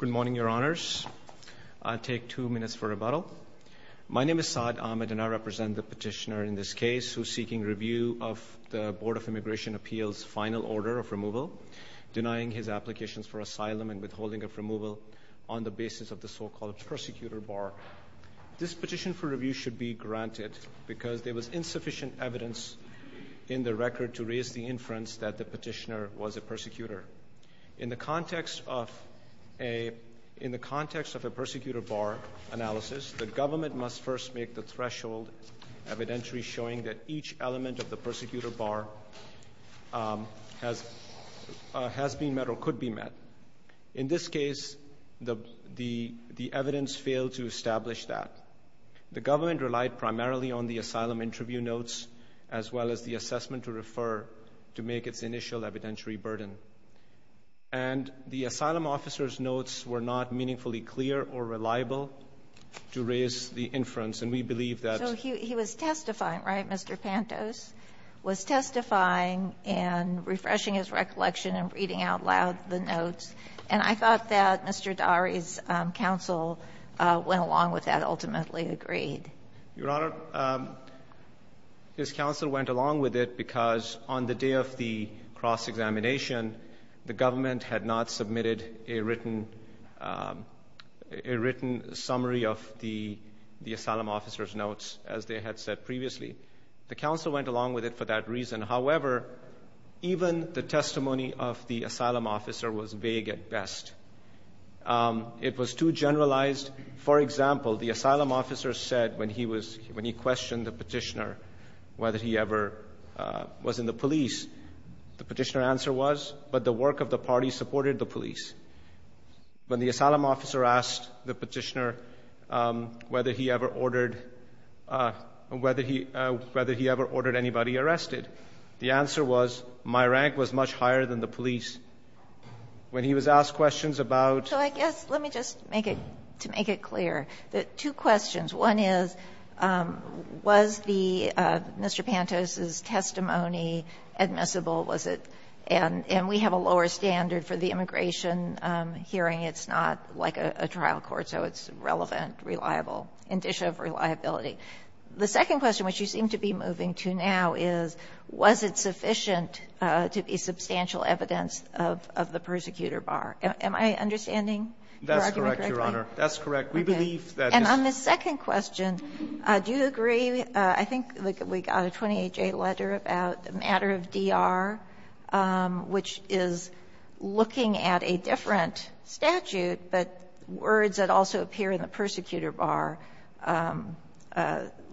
Good morning your honors. I'll take two minutes for rebuttal. My name is Saad Ahmed and I represent the petitioner in this case who's seeking review of the Board of Immigration Appeals final order of removal denying his applications for asylum and withholding of removal on the basis of the so-called persecutor bar. This petition for review should be granted because there was insufficient evidence in the record to raise the inference that the petitioner was a in the context of a persecutor bar analysis the government must first make the threshold evidentiary showing that each element of the persecutor bar has has been met or could be met. In this case the the the evidence failed to establish that. The government relied primarily on the asylum interview notes as well as the assessment to refer to make its initial evidentiary burden and the asylum officer's notes were not meaningfully clear or reliable to raise the inference and we believe that. So he was testifying, right, Mr. Pantos, was testifying and refreshing his recollection and reading out loud the notes and I thought that Mr. Dahri's counsel went along with that ultimately agreed. Your Honor, his counsel went along with it because on the day of the cross-examination the government had not submitted a written a written summary of the the asylum officer's notes as they had said previously. The counsel went along with it for that reason. However, even the testimony of the asylum officer was vague at best. It was too generalized. For example, the asylum officer said when he was when he questioned the petitioner whether he ever was in the police, the answer was yes, but the work of the party supported the police. When the asylum officer asked the petitioner whether he ever ordered whether he whether he ever ordered anybody arrested, the answer was my rank was much higher than the police. When he was asked questions about So I guess let me just make it to make it clear that two questions. One is, was the Mr. Pantos's testimony admissible? Was it and and we have the evidence that we have a lower standard for the immigration hearing. It's not like a trial court, so it's relevant, reliable, indicia of reliability. The second question, which you seem to be moving to now, is, was it sufficient to be substantial evidence of of the persecutor bar? Am I understanding your argument correctly? That's correct, Your Honor. That's correct. We believe that. Okay. And on the second question, do you agree, I think we got a 28-J letter about the matter of D.R., which is looking at a different statute, but words that also appear in the persecutor bar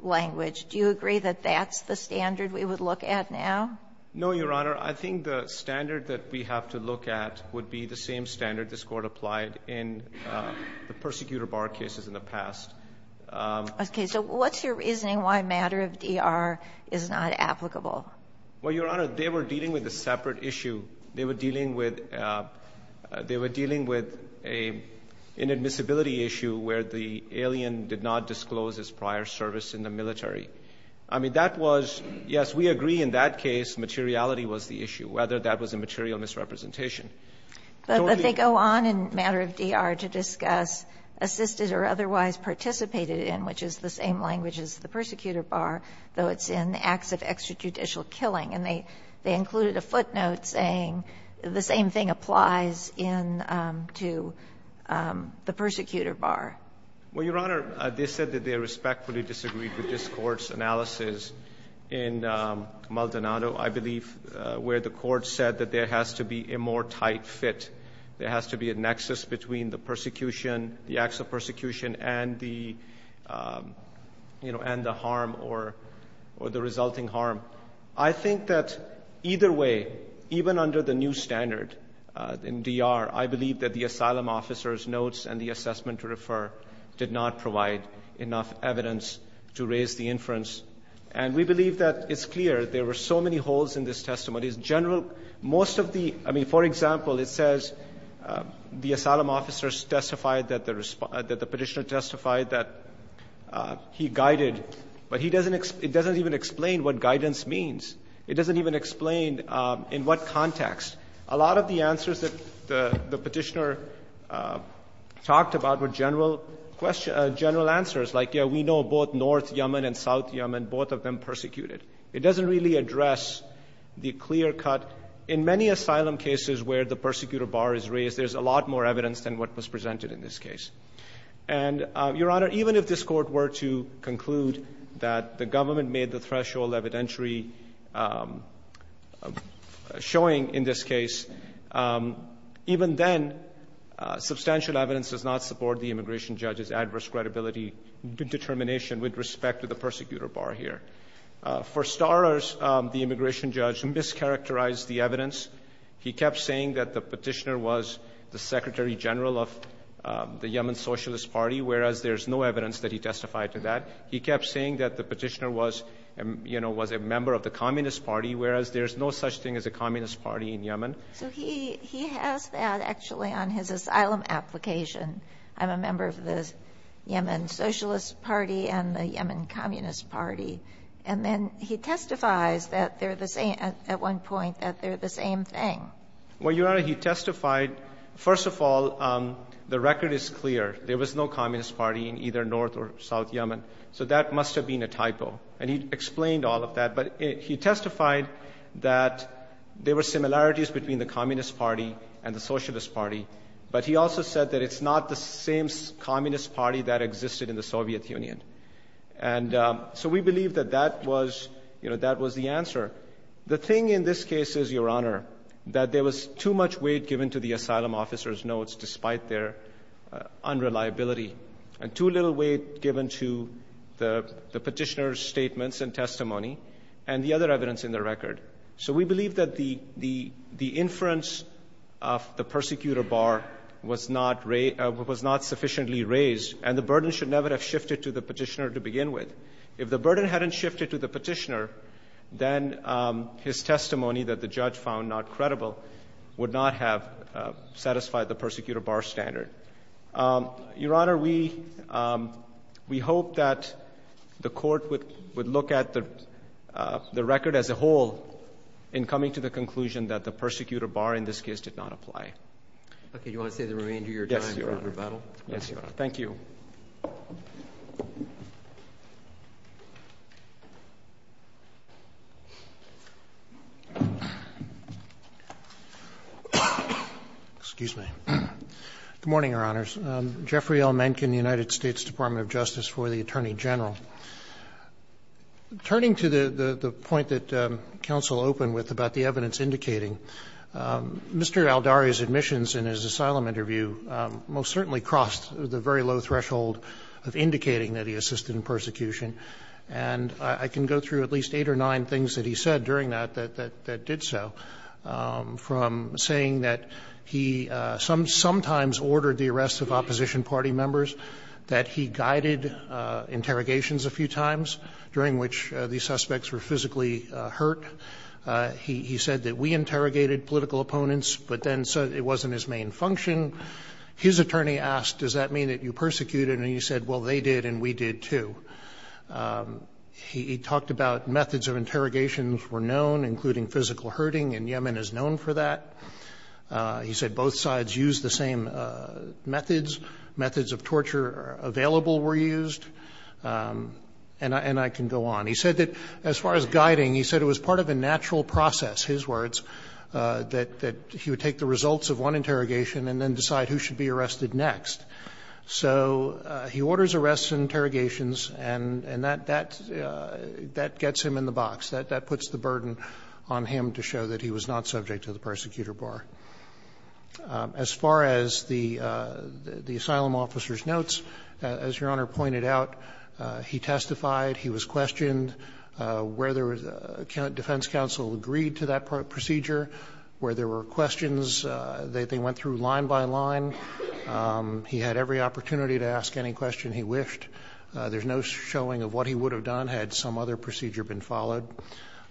language, do you agree that that's the standard we would look at now? No, Your Honor. I think the standard that we have to look at would be the same standard this Court applied in the persecutor bar cases in the past. Okay. So what's your reasoning why matter of D.R. is not applicable? Well, Your Honor, they were dealing with a separate issue. They were dealing with they were dealing with an inadmissibility issue where the alien did not disclose his prior service in the military. I mean, that was, yes, we agree in that case materiality was the issue, whether that was a material misrepresentation. But they go on in matter of D.R. to discuss assisted or otherwise participated in, which is the same language as the persecutor bar, though it's in acts of extra judicial killing. And they included a footnote saying the same thing applies in to the persecutor bar. Well, Your Honor, they said that they respectfully disagreed with this Court's analysis in Maldonado, I believe, where the Court said that there has to be a more tight fit. There has to be a nexus between the persecution, the acts of persecution, and the, you know, and the harm or the resulting harm. I think that either way, even under the new standard in D.R., I believe that the asylum officer's notes and the assessment to refer did not provide enough evidence to raise the inference. And we believe that it's clear there were so many holes in this testimony. In general, most of the – I mean, for example, it says the asylum officer testified that the – that the Petitioner testified that he guided, but he doesn't – it doesn't even explain what guidance means. It doesn't even explain in what context. A lot of the answers that the Petitioner talked about were general question – general answers, like, yes, we know both North Yemen and South Yemen, both of them persecuted. It doesn't really address the clear cut. In many asylum cases where the persecutor bar is raised, there's a lot more evidence than what was presented in this case. And, Your Honor, even if this Court were to conclude that the government made the threshold evidentiary showing in this case, even then, substantial evidence does not support the immigration judge's adverse credibility determination with respect to the persecutor bar here. For starters, the immigration judge mischaracterized the evidence. He kept saying that the Petitioner was the Secretary General of the Yemen Socialist Party, whereas there's no evidence that he testified to that. He kept saying that the Petitioner was, you know, was a member of the Communist Party, whereas there's no such thing as a Communist Party in Yemen. So he has that, actually, on his asylum application. I'm a member of the Yemen Socialist Party and the Yemen Communist Party. And then he testifies that they're the same, at one point, that they're the same thing. Well, Your Honor, he testified. First of all, the record is clear. There was no Communist Party in either North or South Yemen. So that must have been a typo. And he explained all of that. But he testified that there were similarities between the Communist Party and the Socialist Party. But he also said that it's not the same Communist Party that existed in the Soviet Union. And so we believe that that was, you know, that was the answer. The thing in this case is, Your Honor, that there was too much weight given to the asylum officer's notes, despite their unreliability, and too little weight given to the Petitioner's statements and testimony, and the other evidence in the record. So we believe that the inference of the persecutor bar was not raised or was not shifted to the Petitioner to begin with. If the burden hadn't shifted to the Petitioner, then his testimony that the judge found not credible would not have satisfied the persecutor bar standard. Your Honor, we hope that the Court would look at the record as a whole in coming to the conclusion that the persecutor bar in this case did not apply. Okay. Do you want to say the remainder of your time, Your Honor? Yes, Your Honor. Rebuttal? Yes, Your Honor. Thank you. Excuse me. Good morning, Your Honors. Jeffrey L. Mencken, United States Department of Justice, for the Attorney General. Turning to the point that counsel opened with about the evidence indicating, Mr. Aldari's admissions in his asylum interview most certainly crossed the very low threshold of indicating that he assisted in persecution. And I can go through at least eight or nine things that he said during that, that did so, from saying that he sometimes ordered the arrests of opposition party members, that he guided interrogations a few times, during which the suspects were physically hurt. He said that we interrogated political opponents, but then said it wasn't his main function. His attorney asked, does that mean that you persecuted? And he said, well, they did and we did, too. He talked about methods of interrogations were known, including physical hurting, and Yemen is known for that. He said both sides used the same methods. Methods of torture available were used. And I can go on. He said that as far as guiding, he said it was part of a natural process, his words, that he would take the results of one interrogation and then decide who should be arrested next. So he orders arrests and interrogations, and that gets him in the box. That puts the burden on him to show that he was not subject to the persecutor bar. As far as the asylum officer's notes, as Your Honor pointed out, he testified, he was questioned, whether defense counsel agreed to that procedure, where there were questions, they went through line by line. He had every opportunity to ask any question he wished. There's no showing of what he would have done had some other procedure been followed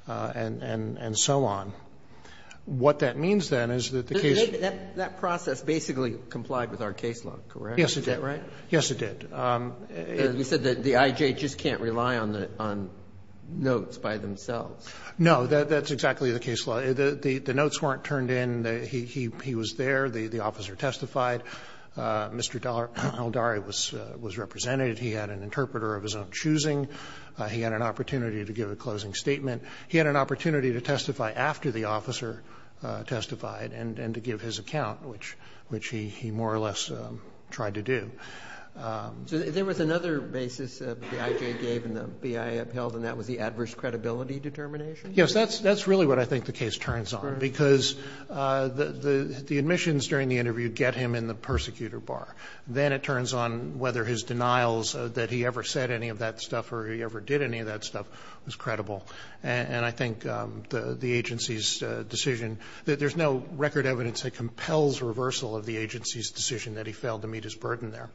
and so on. What that means, then, is that the case wasn't the case. That process basically complied with our case law, correct? Yes, it did. Right? Yes, it did. You said that the I.J. just can't rely on the notes by themselves. No, that's exactly the case law. The notes weren't turned in. He was there. The officer testified. Mr. Aldari was represented. He had an interpreter of his own choosing. He had an opportunity to give a closing statement. He had an opportunity to testify after the officer testified and to give his account, which he more or less tried to do. So there was another basis that the I.J. gave and the BIA upheld, and that was the adverse credibility determination? Yes. That's really what I think the case turns on. Because the admissions during the interview get him in the persecutor bar. Then it turns on whether his denials that he ever said any of that stuff or he ever did any of that stuff was credible. And I think the agency's decision that there's no record evidence that compels reversal of the agency's decision that he failed to meet his burden there.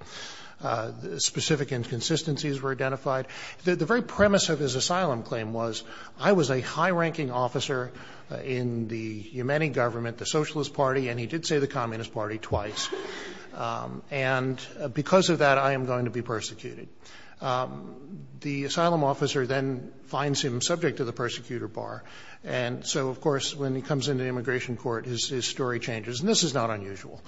Specific inconsistencies were identified. The very premise of his asylum claim was, I was a high-ranking officer in the Yemeni government, the Socialist Party, and he did say the Communist Party twice. And because of that, I am going to be persecuted. The asylum officer then finds him subject to the persecutor bar. And so, of course, when he comes into immigration court, his story changes. And this is not unusual.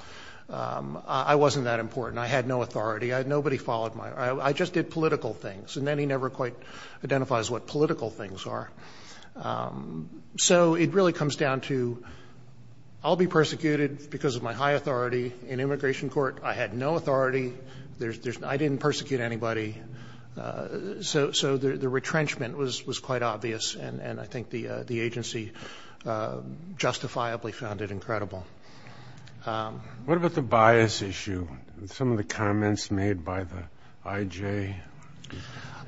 I wasn't that important. I had no authority. Nobody followed my order. I just did political things. And then he never quite identifies what political things are. So it really comes down to, I'll be persecuted because of my high authority in immigration court. I had no authority. I didn't persecute anybody. So the retrenchment was quite obvious. And I think the agency justifiably found it incredible. What about the bias issue? Some of the comments made by the I.J.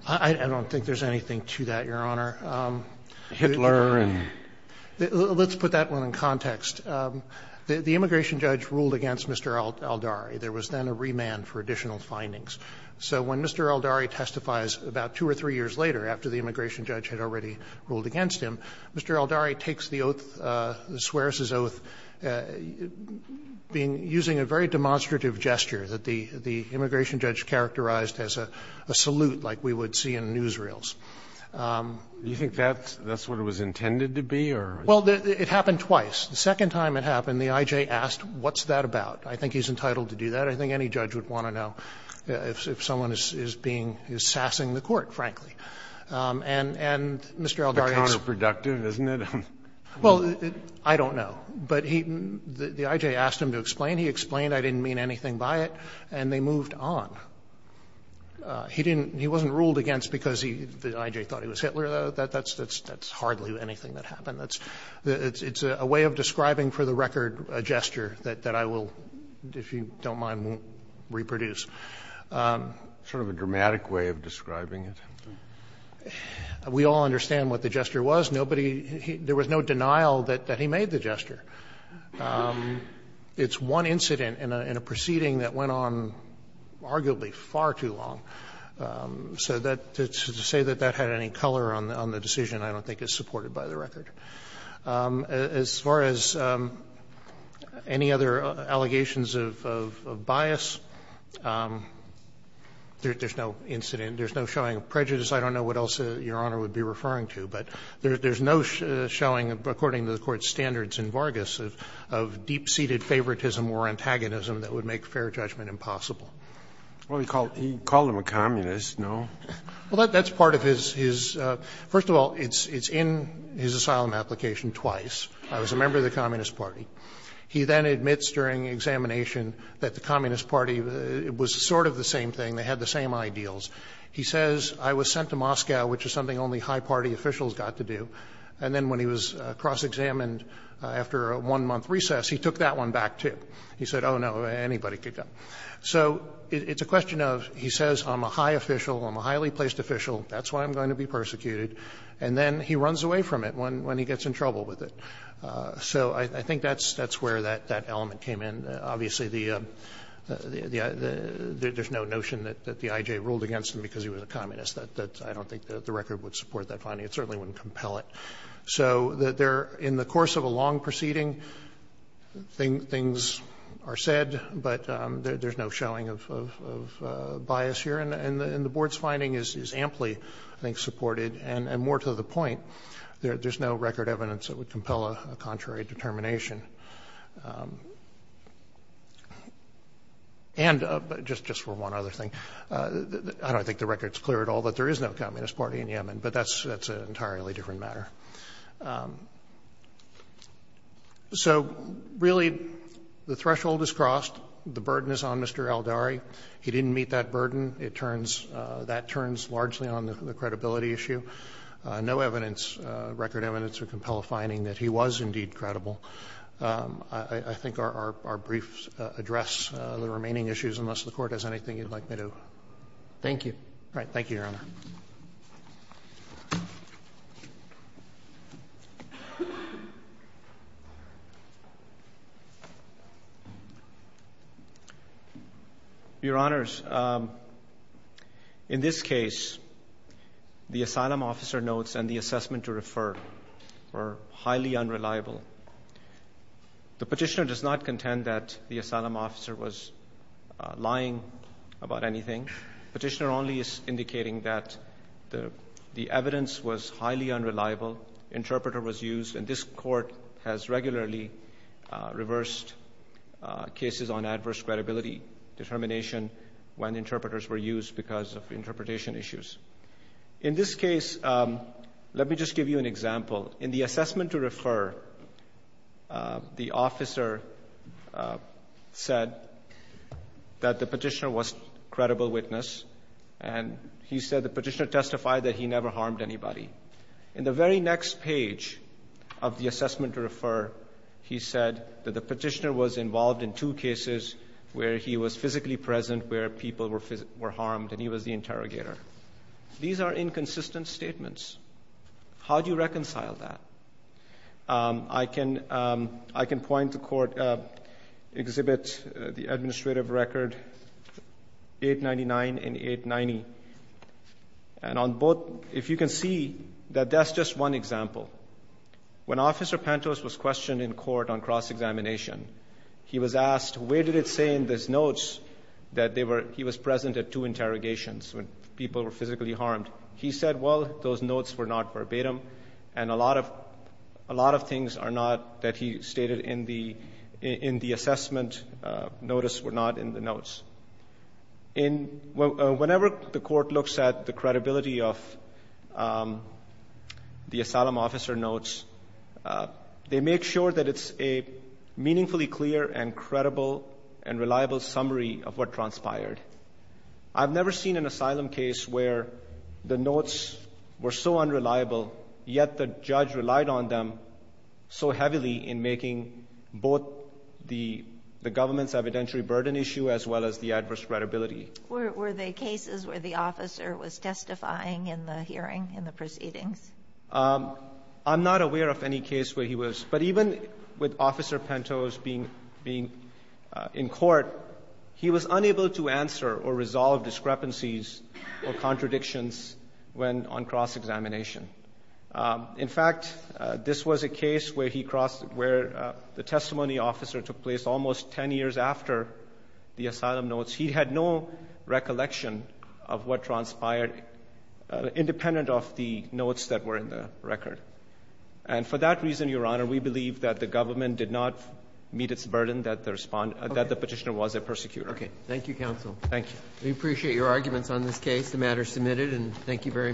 I don't think there's anything to that, Your Honor. Hitler and the other. Let's put that one in context. The immigration judge ruled against Mr. Aldari. There was then a remand for additional findings. So when Mr. Aldari testifies about two or three years later, after the immigration using a very demonstrative gesture that the immigration judge characterized as a salute like we would see in newsreels. Do you think that's what it was intended to be, or? Well, it happened twice. The second time it happened, the I.J. asked, what's that about? I think he's entitled to do that. I think any judge would want to know if someone is being, is sassing the court, frankly. And Mr. Aldari's. Counterproductive, isn't it? Well, I don't know. But he, the I.J. asked him to explain. He explained I didn't mean anything by it, and they moved on. He didn't, he wasn't ruled against because he, the I.J. thought he was Hitler. That's hardly anything that happened. It's a way of describing for the record a gesture that I will, if you don't mind, won't reproduce. Sort of a dramatic way of describing it. We all understand what the gesture was. Nobody, there was no denial that he made the gesture. It's one incident in a proceeding that went on arguably far too long. So that, to say that that had any color on the decision I don't think is supported by the record. As far as any other allegations of bias, there's no incident, there's no showing of prejudice. I don't know what else Your Honor would be referring to. But there's no showing, according to the Court's standards in Vargas, of deep-seated favoritism or antagonism that would make fair judgment impossible. Scalia, he called him a communist, no? Well, that's part of his, first of all, it's in his asylum application twice. I was a member of the Communist Party. He then admits during examination that the Communist Party was sort of the same thing. They had the same ideals. He says, I was sent to Moscow, which is something only high party officials got to do. And then when he was cross-examined after a one-month recess, he took that one back too. He said, oh, no, anybody could go. So it's a question of, he says, I'm a high official, I'm a highly placed official, that's why I'm going to be persecuted, and then he runs away from it when he gets in trouble with it. So I think that's where that element came in. Obviously, there's no notion that the I.J. ruled against him because he was a communist. I don't think the record would support that finding. It certainly wouldn't compel it. So there, in the course of a long proceeding, things are said, but there's no showing of bias here. And the Board's finding is amply, I think, supported. And more to the point, there's no record evidence that would compel a contrary determination. And just for one other thing, I don't think the record's clear at all that there is no Communist Party in Yemen, but that's an entirely different matter. So really, the threshold is crossed. The burden is on Mr. Aldari. He didn't meet that burden. It turns – that turns largely on the credibility issue. No evidence, record evidence, would compel a finding that he was indeed credible. I think our briefs address the remaining issues, unless the Court has anything you'd like me to do. Robertson, Thank you. Roberts, All right. Thank you, Your Honor. Your Honors, in this case, the asylum officer notes and the assessment to refer were highly unreliable. The Petitioner does not contend that the asylum officer was lying about anything. Petitioner only is indicating that the evidence was highly unreliable, interpreter was used, and this Court has regularly reversed cases on adverse credibility determination when interpreters were used because of interpretation issues. In this case, let me just give you an example. In the assessment to refer, the officer said that the Petitioner was a credible witness, and he said the Petitioner testified that he never harmed anybody. In the very next page of the assessment to refer, he said that the Petitioner was involved in two cases where he was physically present, where people were harmed, and he was the interrogator. These are inconsistent statements. How do you reconcile that? I can point the Court, exhibit the administrative record, 899 and 890. And on both, if you can see, that that's just one example. When Officer Pantos was questioned in court on cross-examination, he was asked, where did it say in those notes that he was present at two interrogations when people were physically harmed? He said, well, those notes were not verbatim, and a lot of things are not that he stated in the assessment notice were not in the notes. Whenever the Court looks at the credibility of the asylum officer notes, they make sure that it's a meaningfully clear and credible and reliable summary of what transpired. I've never seen an asylum case where the notes were so unreliable, yet the judge relied on them so heavily in making both the government's evidentiary burden issue as well as the adverse credibility. Were they cases where the officer was testifying in the hearing, in the proceedings? I'm not aware of any case where he was. But even with Officer Pantos being in court, he was unable to answer or resolve discrepancies or contradictions when on cross-examination. In fact, this was a case where the testimony officer took place almost 10 years after the asylum notes. He had no recollection of what transpired independent of the notes that were in the record. And for that reason, Your Honor, we believe that the government did not meet its burden that the petitioner was a persecutor. Okay. Thank you, counsel. Thank you. We appreciate your arguments on this case. The matter is submitted, and thank you very much.